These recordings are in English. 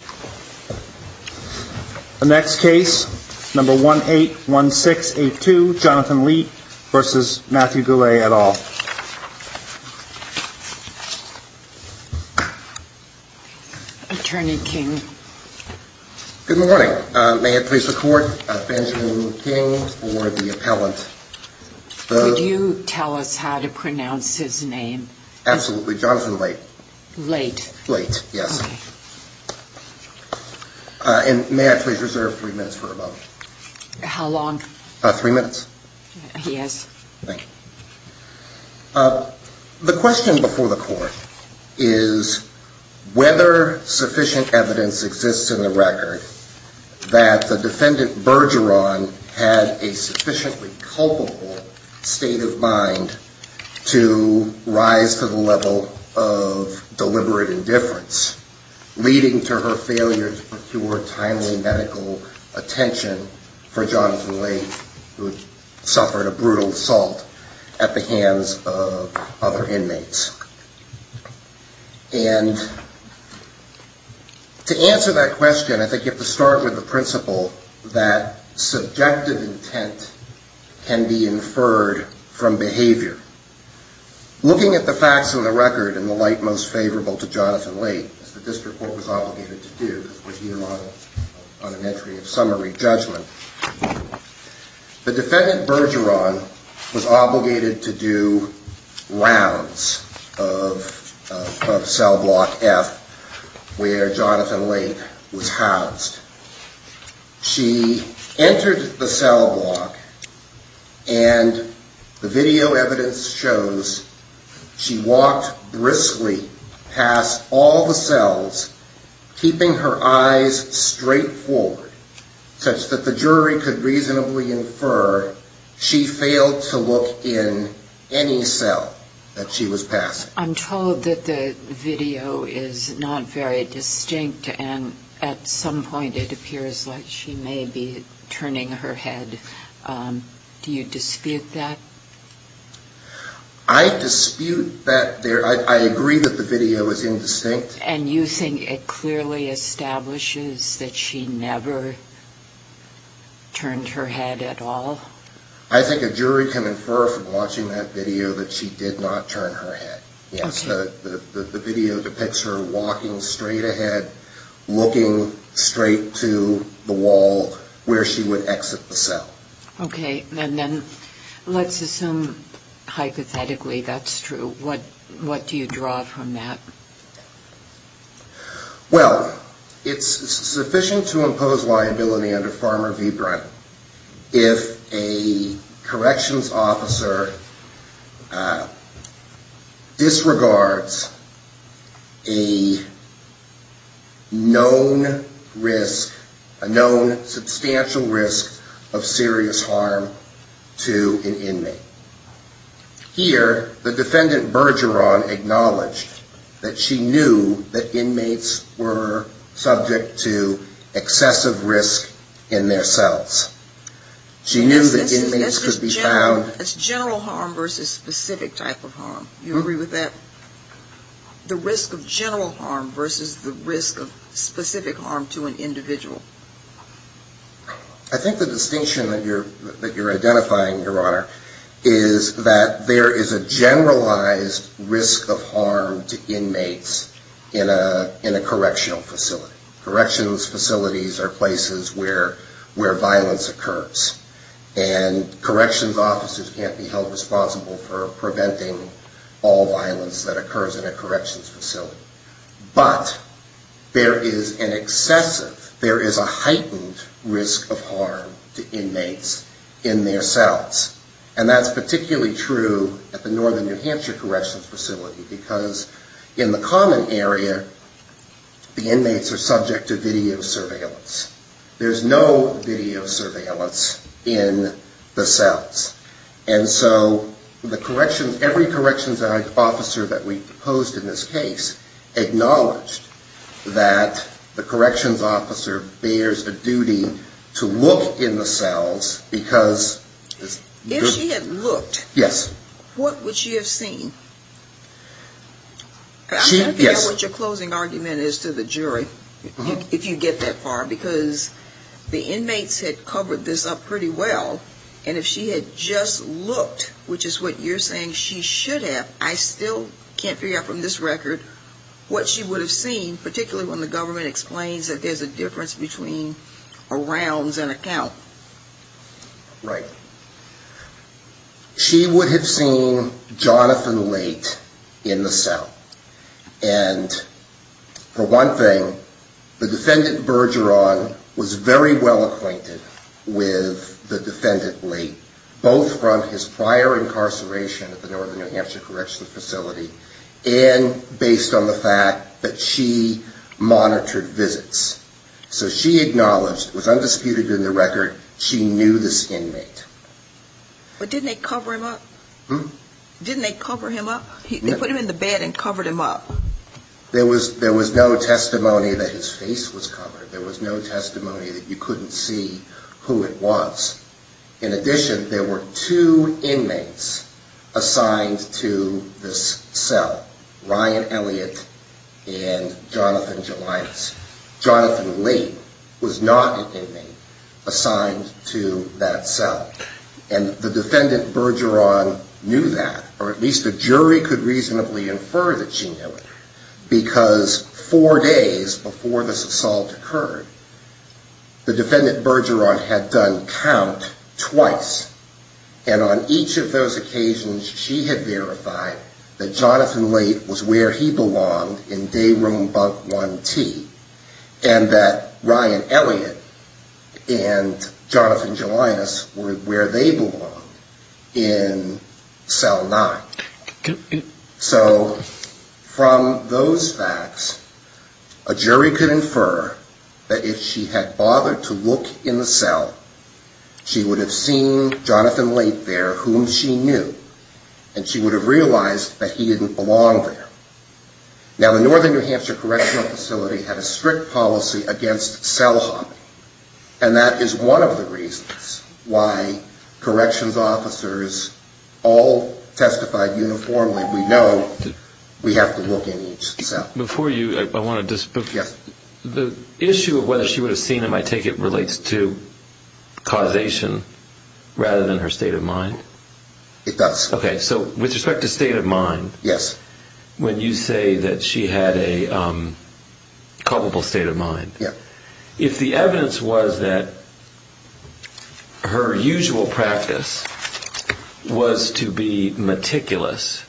181682 Jonathan Leite v. Matthew Goulet Attorney King Good morning. May it please the court, Benjamin King for the appellant. Would you tell us how to pronounce his name? Absolutely, Jonathan Leite. May I please reserve three minutes for a moment? How long? Three minutes. The question before the court is whether sufficient evidence exists in the record that the defendant Bergeron had a sufficiently culpable state of mind to rise to the level of deliberate indifference, leading to her failure to procure timely medical attention for Jonathan Leite, who suffered a brutal assault at the hands of other inmates. And to answer that question, I think you have to start with the principle that subjective intent can be inferred from behavior. Looking at the facts of the record, in the light most favorable to Jonathan Leite, as the district court was obligated to do, as we hear on an entry of summary judgment, the of cell block F, where Jonathan Leite was housed. She entered the cell block, and the video evidence shows she walked briskly past all the cells, keeping her eyes straight forward such that the jury could reasonably infer she failed to look in any cell that she was in. I'm told that the video is not very distinct, and at some point it appears like she may be turning her head. Do you dispute that? I dispute that. I agree that the video is indistinct. And you think it clearly establishes that she never turned her head at all? I think a jury can infer from watching that video that she did not turn her head. Yes, the video depicts her walking straight ahead, looking straight to the wall where she would exit the cell. Okay, and then let's assume hypothetically that's true. What do you draw from that? Well, it's sufficient to impose liability under Farmer v. Brunt if a corrections officer disregards a known substantial risk of serious harm to an inmate. Here, the defendant, Bergeron, acknowledged that she knew that inmates were subject to excessive risk in their cells. She knew that inmates could be found That's general harm versus specific type of harm. Do you agree with that? The risk of general harm versus the risk of specific harm to an individual. I think the distinction that you're identifying, Your Honor, is that there is a generalized risk of harm to inmates in a correctional facility. Corrections facilities are places where violence occurs. And corrections officers can't be held responsible for preventing all violence that occurs in a corrections facility. But there is an excessive, there is a heightened risk of harm to inmates in their cells. And that's particularly true at the Northern New Hampshire Corrections Facility, because in the common area, the inmates are subject to video surveillance. There's no video surveillance in the cells. And so the corrections, every corrections officer that we've posed in this case, acknowledged that the corrections officer bears a duty to look in the cells because If she had looked, what would she have seen? I'm not sure what your closing argument is to the jury, if you get that far, because the inmates had covered this up pretty well. And if she had just looked, which is what you're saying she should have, I still can't figure out from this record what she would have seen, particularly when the government explains that there's a difference between a rounds and a count. Right. She would have seen Jonathan Late in the cell. And for one thing, the defendant Bergeron was very well acquainted with the defendant Late, both from his prior incarceration at the Northern New Hampshire Corrections Facility and based on the fact that she monitored visits. So she acknowledged, it was undisputed in the record, she knew this inmate. But didn't they cover him up? Didn't they cover him up? They put him in the bed and covered him up. There was no testimony that his face was covered. There was no testimony that you couldn't see who it was. In addition, there were two inmates assigned to this cell, Ryan Elliott and Jonathan Jelinas. Jonathan Late was not an inmate assigned to that cell. And the defendant Bergeron knew that, or at least the jury could reasonably infer that she knew it, because four days before this assault occurred, the defendant Bergeron had done count twice. And on each of those occasions, she had verified that Jonathan Late was where he belonged in Day Room Bunk 1T, and that Ryan Elliott and Jonathan Jelinas were where they belonged in Cell 9. So, from those facts, a jury could infer that if she had bothered to look in the cell, she would have seen Jonathan Late there, whom she knew, and she would have realized that he didn't belong there. Now the Northern New Hampshire Correctional Facility had a strict policy against cell hopping, and that is one of the reasons why corrections officers all testified differently than others. So, we have to look in each cell uniformly. We know we have to look in each cell. Before you, I want to just... Yes. The issue of whether she would have seen him, I take it relates to causation, rather than her state of mind? It does. Okay. So, with respect to state of mind... Yes. When you say that she had a culpable state of mind... Yes. If the evidence was that her usual practice was to be meticulous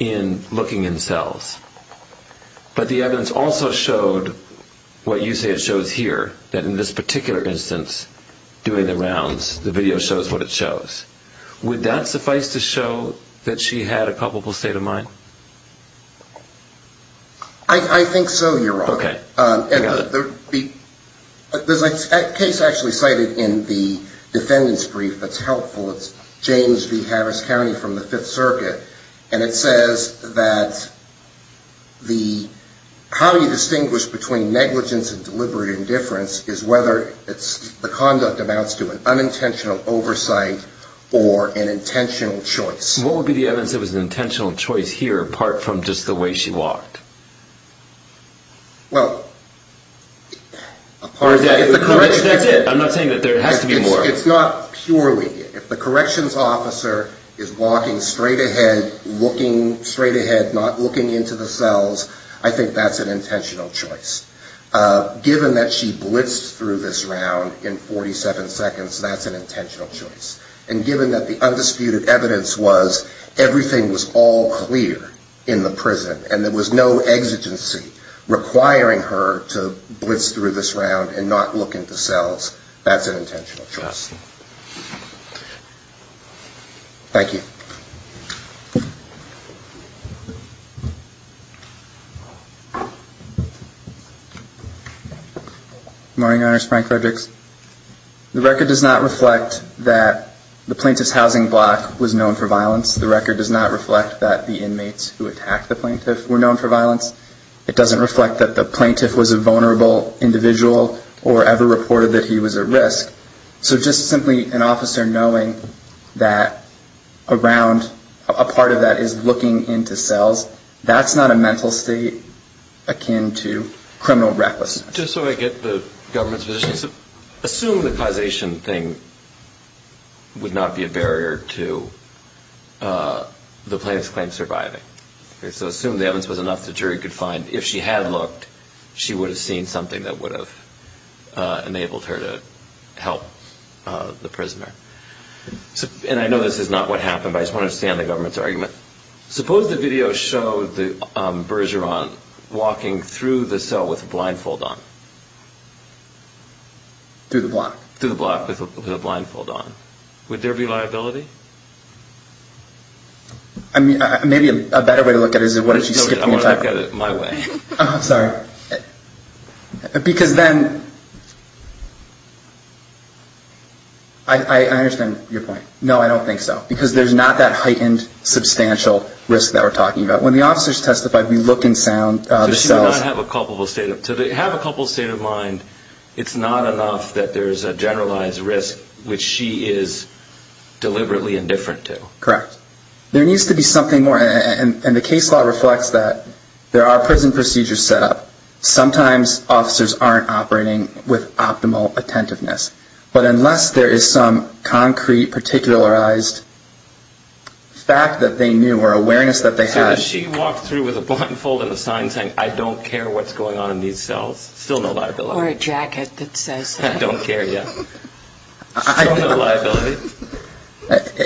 in looking in cells, but the evidence also showed what you say it shows here, that in this particular instance, doing the rounds, the video shows what it shows, would that suffice to show that she had a culpable state of mind? I think so, Your Honor. Okay. There's a case actually cited in the defendant's brief that's helpful. It's James v. Harris County from the Fifth Circuit, and it says that how you distinguish between negligence and deliberate indifference is whether the conduct amounts to an unintentional oversight or an intentional choice. What would be the evidence that was an intentional choice here, apart from just the way she walked? Well... That's it. I'm not saying that there has to be more. It's not purely. If the corrections officer is walking straight ahead, looking straight ahead, not looking into the cells, I think that's an intentional choice. Given that she blitzed through this round in 47 seconds, that's an intentional choice. And given that the undisputed evidence was everything was all clear in the prison and there was no exigency requiring her to blitz through this round and not look into cells, that's an intentional choice. Thank you. Good morning, Your Honors. Frank Fredericks. The record does not reflect that the plaintiff's housing block was known for violence. The record does not reflect that the inmates who attacked the plaintiff were known for violence. It doesn't reflect that the plaintiff was a vulnerable individual or ever reported that he was at risk. So just simply an officer knowing that around a part of that is looking into cells, that's not a mental state akin to criminal recklessness. Just so I get the government's position, assume the causation thing would not be a barrier to the plaintiff's claim surviving. So assume the evidence was enough that the jury could find if she had looked, she would have seen something that would have enabled her to help the prisoner. And I know this is not what happened, but I just want to stay on the government's argument. Suppose the video showed the Bergeron walking through the cell with a blindfold on. Through the block. Through the block with a blindfold on. Would there be liability? I mean, maybe a better way to look at it is why don't you skip the entire... I want to look at it my way. Sorry. Because then... I understand your point. No, I don't think so. Because there's not that heightened substantial risk that we're talking about. When the officers testified, we looked in the cells. So she would not have a culpable state of mind. To have a culpable state of mind, it's not enough that there's a generalized risk which she is deliberately indifferent to. Correct. There needs to be something more. And the case law reflects that. There are prison procedures set up. Sometimes officers aren't operating with optimal attentiveness. But unless there is some concrete particularized fact that they knew or awareness that they had... So if she walked through with a blindfold and a sign saying, I don't care what's going on in these cells, still no liability. Or a jacket that says... I don't care, yeah. Still no liability.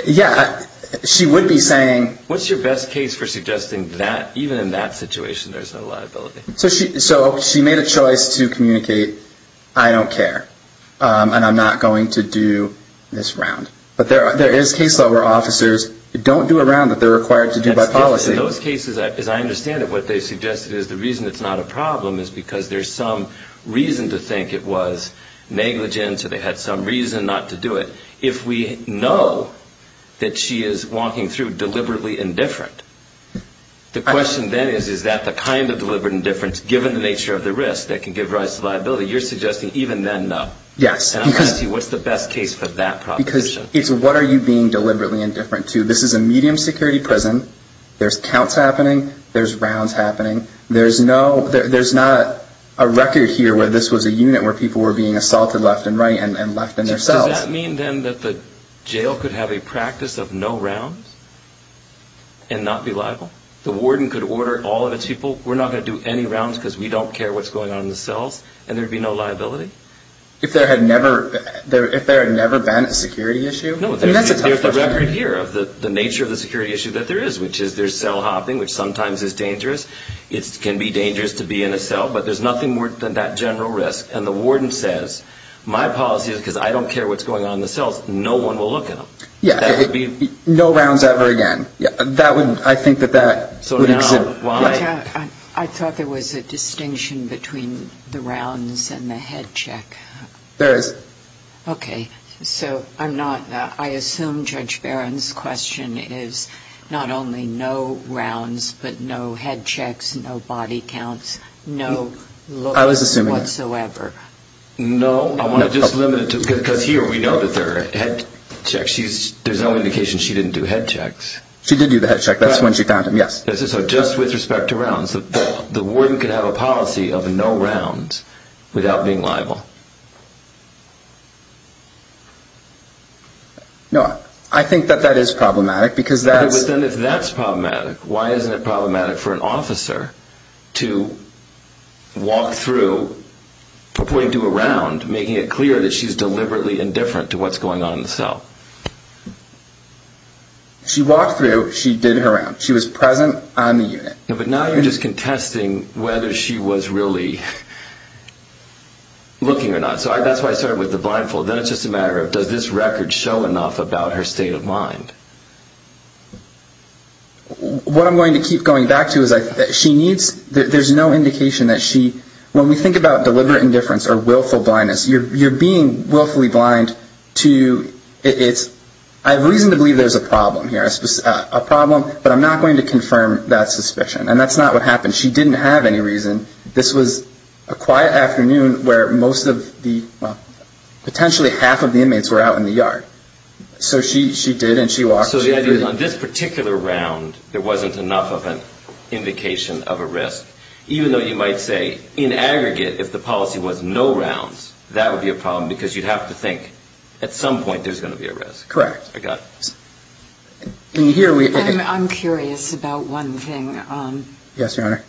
Yeah. She would be saying... What's your best case for suggesting that even in that situation there's no liability? So she made a choice to communicate, I don't care. And I'm not going to do this round. But there is case law where officers don't do a round that they're required to do by policy. In those cases, as I understand it, what they suggested is the reason it's not a problem is because there's some reason to think it was negligence or they had some reason not to do it. If we know that she is walking through deliberately indifferent, the question then is, is that the kind of deliberate indifference, given the nature of the risk, that can give rise to liability? You're suggesting even then, no. And I'm trying to see what's the best case for that proposition. Because it's what are you being deliberately indifferent to? This is a medium security prison. There's counts happening. There's rounds happening. There's not a record here where this was a unit where people were being assaulted left and right and left in their cells. Does that mean then that the jail could have a practice of no rounds and not be liable? The warden could order all of its people, we're not going to do any rounds because we don't care what's going on in the cells, and there would be no liability? If there had never been a security issue? No. There's a record here of the nature of the security issue that there is, which is there's cell hopping, which sometimes is dangerous. It can be dangerous to be in a cell, but there's nothing more than that general risk. And the warden says, my policy is because I don't care what's going on in the cells, no one will look at them. No rounds ever again. I think that that would exist. I thought there was a distinction between the rounds and the head check. There is. Okay. So I'm not, I assume Judge Barron's question is not only no rounds, but no head checks, no body counts, no looks whatsoever. No. I want to just limit it to, because here we know that there are head checks. There's no indication she didn't do head checks. She did do the head check. That's when she found him, yes. So just with respect to rounds, the warden could have a policy of no rounds without being liable? No. I think that that is problematic because that's... But then if that's problematic, why isn't it problematic for an officer to walk through, point to a round, making it clear that she's deliberately indifferent to what's going on in the cell? She walked through, she did her round. She was present on the unit. But now you're just contesting whether she was really looking or not. So that's why I started with the blindfold. Then it's just a matter of does this record show enough about her state of mind? What I'm going to keep going back to is she needs, there's no indication that she, when we think about deliberate indifference or willful blindness, you're being willfully blind to, it's, I have reason to believe there's a problem here, a problem, but I'm not going to confirm that suspicion. And that's not what happened. She didn't have any reason. This was a quiet afternoon where most of the, well, potentially half of the inmates were out in the yard. So she did and she walked through. So the idea is on this particular round, there wasn't enough of an indication of a risk, even though you might say in aggregate, if the policy was no rounds, that would be a problem because you'd have to think at some point there's going to be a risk. Correct. I got it. I'm curious about one thing. Yes, Your Honor.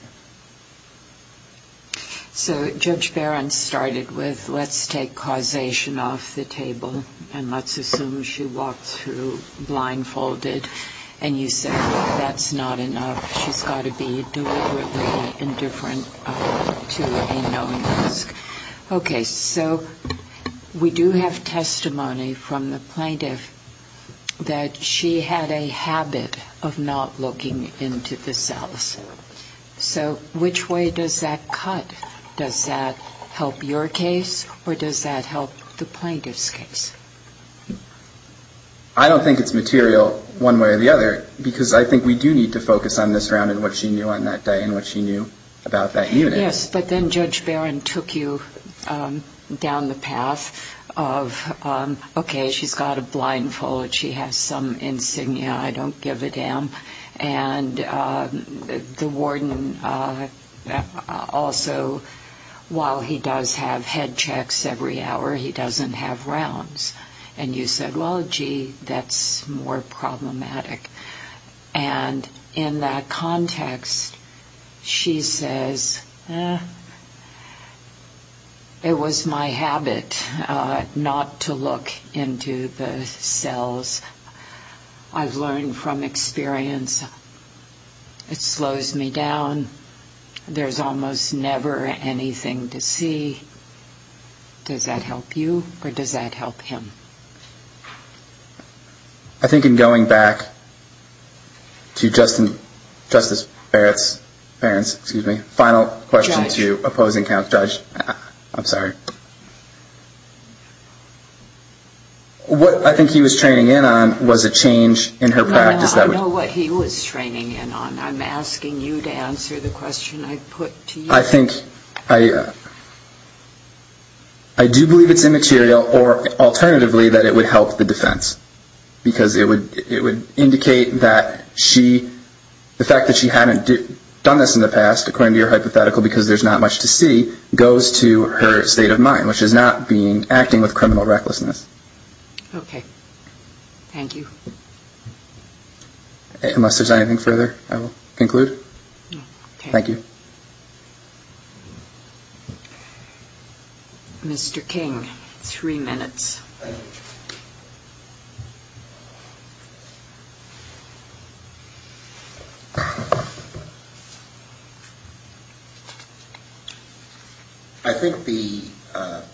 So Judge Barron started with let's take causation off the table and let's assume she walked through blindfolded and you said that's not enough. She's got to be deliberately indifferent to a known risk. Okay. So we do have testimony from the plaintiff that she had a habit of not looking into the cells. So which way does that cut? Does that help your case or does that help the plaintiff's case? I don't think it's material one way or the other because I think we do need to focus on this round and what she knew on that day and what she knew about that unit. Yes, but then Judge Barron took you down the path of, okay, she's got a blindfold, she has some insignia, I don't give a damn, and the warden also, while he does have head checks every hour, he doesn't have rounds. And you said, well, gee, that's more problematic. And in that context, she says, eh, it was my habit not to look into the cells. I've learned from experience it slows me down. There's almost never anything to see. Does that help you or does that help him? I think in going back to Justice Barron's final question to opposing counsel. I'm sorry. What I think he was training in on was a change in her practice. No, I know what he was training in on. I'm asking you to answer the question I put to you. I do believe it's immaterial or alternatively that it would help the defense, because it would indicate that the fact that she hadn't done this in the past, according to your hypothetical, because there's not much to see, goes to her state of mind, which is not acting with criminal recklessness. Okay. Thank you. Unless there's anything further, I will conclude. Thank you. Mr. King, three minutes. I think the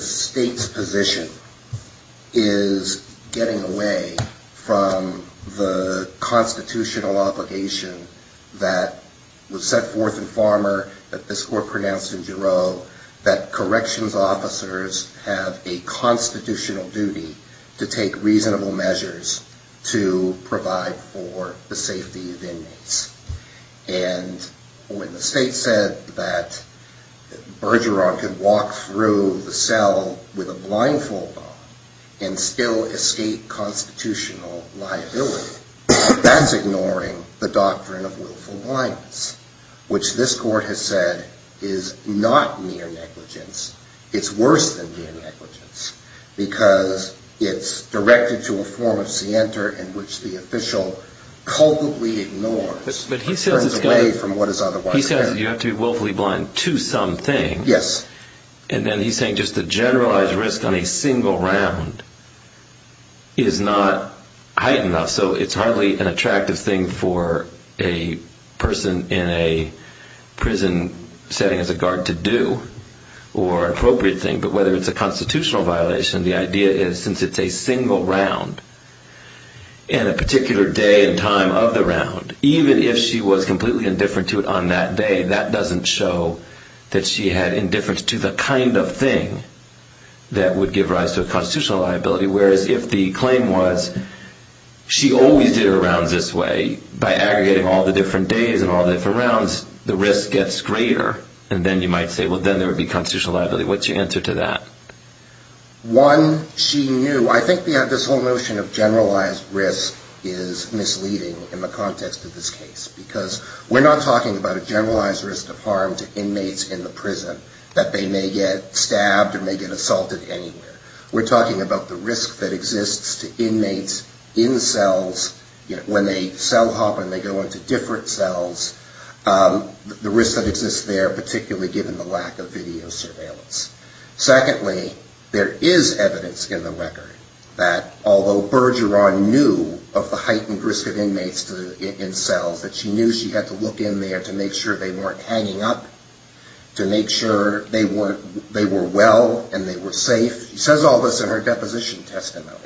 state's position is getting away from this constitutional obligation that was set forth in Farmer, that this court pronounced in Giroux, that corrections officers have a constitutional duty to take reasonable measures to provide for the safety of inmates. And when the state said that Bergeron could walk through the cell with a blindfold on and still escape constitutional liability, that's ignoring the doctrine of willful blindness, which this court has said is not mere negligence. It's worse than mere negligence, because it's directed to a form of scienter in which the official culpably ignores. But he says you have to be willfully blind to some things. Yes. And then he's saying just the generalized risk on a single round is not high enough. So it's hardly an attractive thing for a person in a prison setting as a guard to do or appropriate thing. But whether it's a constitutional violation, the idea is since it's a single round and a particular day and time of the round, even if she was completely indifferent to it on that day, that doesn't show that she had indifference to the kind of thing that would give rise to a constitutional liability. Whereas if the claim was she always did her rounds this way, by aggregating all the different days and all the different rounds, the risk gets greater, and then you might say, well, then there would be constitutional liability. What's your answer to that? One, she knew. I think this whole notion of generalized risk is misleading in the context of this case. Because we're not talking about a generalized risk of harm to inmates in the prison that they may get stabbed or may get assaulted anywhere. We're talking about the risk that exists to inmates in cells when they cell hop and they go into different cells, the risk that exists there, particularly given the lack of video surveillance. Secondly, there is evidence in the record that although Bergeron knew of the heightened risk of inmates in cells, that she knew she had to look in there to make sure they weren't hanging up, to make sure they were well and they were safe. She says all this in her deposition testimony.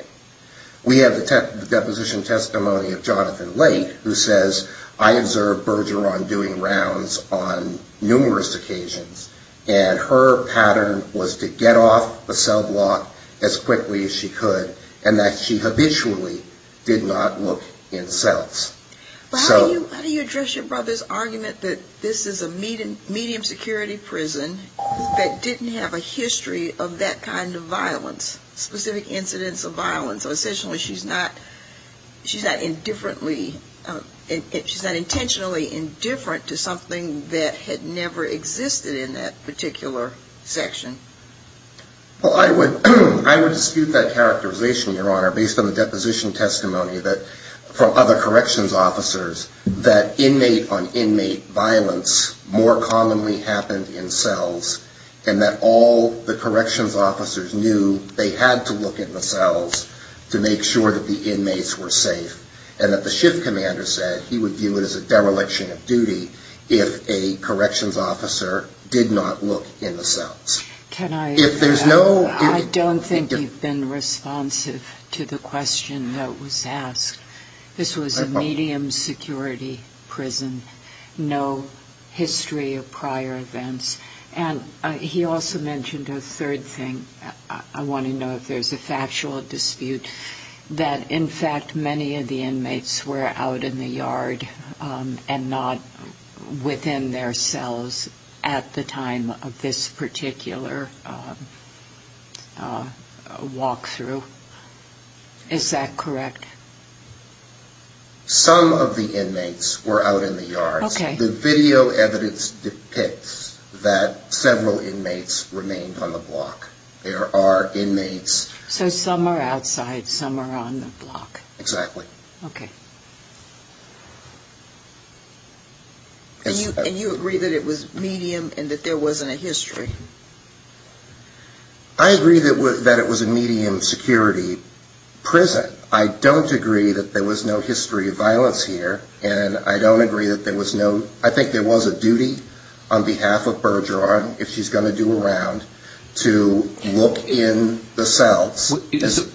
We have the deposition testimony of Jonathan Lake, who says, I observed Bergeron doing rounds on numerous occasions, and her pattern was to get off the cell block as quickly as she could, and that she habitually did not look in cells. How do you address your brother's argument that this is a medium security prison that didn't have a history of that kind of violence, specific incidents of violence? So essentially she's not indifferently, she's not intentionally indifferent to something that had never existed in that particular section. Well, I would dispute that characterization, Your Honor, based on the deposition testimony from other corrections officers, that inmate on inmate violence more commonly happened in cells, and that all the corrections officers knew they had to look in the cells to make sure that the inmates were safe, and that the shift commander said he would view it as a dereliction of duty if a corrections officer did not look in the cells. I don't think you've been responsive to the question that was asked. This was a medium security prison. No history of prior events. And he also mentioned a third thing. I want to know if there's a factual dispute that, in fact, many of the inmates were out in the yard and not within their cells at the time of this particular walk-through. Is that correct? Some of the inmates were out in the yards. The video evidence depicts that several inmates remained on the block. There are inmates... So some are outside, some are on the block. Exactly. And you agree that it was medium and that there wasn't a history? I agree that it was a medium security prison. I don't agree that there was no history of violence here, and I don't agree that there was no... I think there was a duty on behalf of Bergeron, if she's going to do a round, to look in the cells.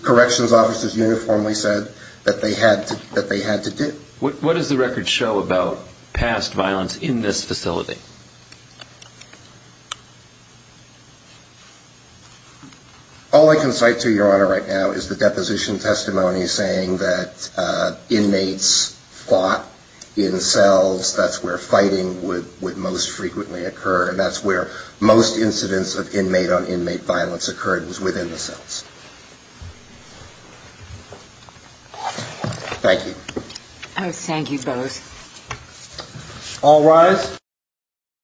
Corrections officers uniformly said that they had to do. What does the record show about past violence in this facility? All I can cite to Your Honor right now is the deposition testimony saying that inmates fought in cells. That's where fighting would most frequently occur, and that's where most incidents of inmate-on-inmate violence occurred was within the cells. Thank you. All rise.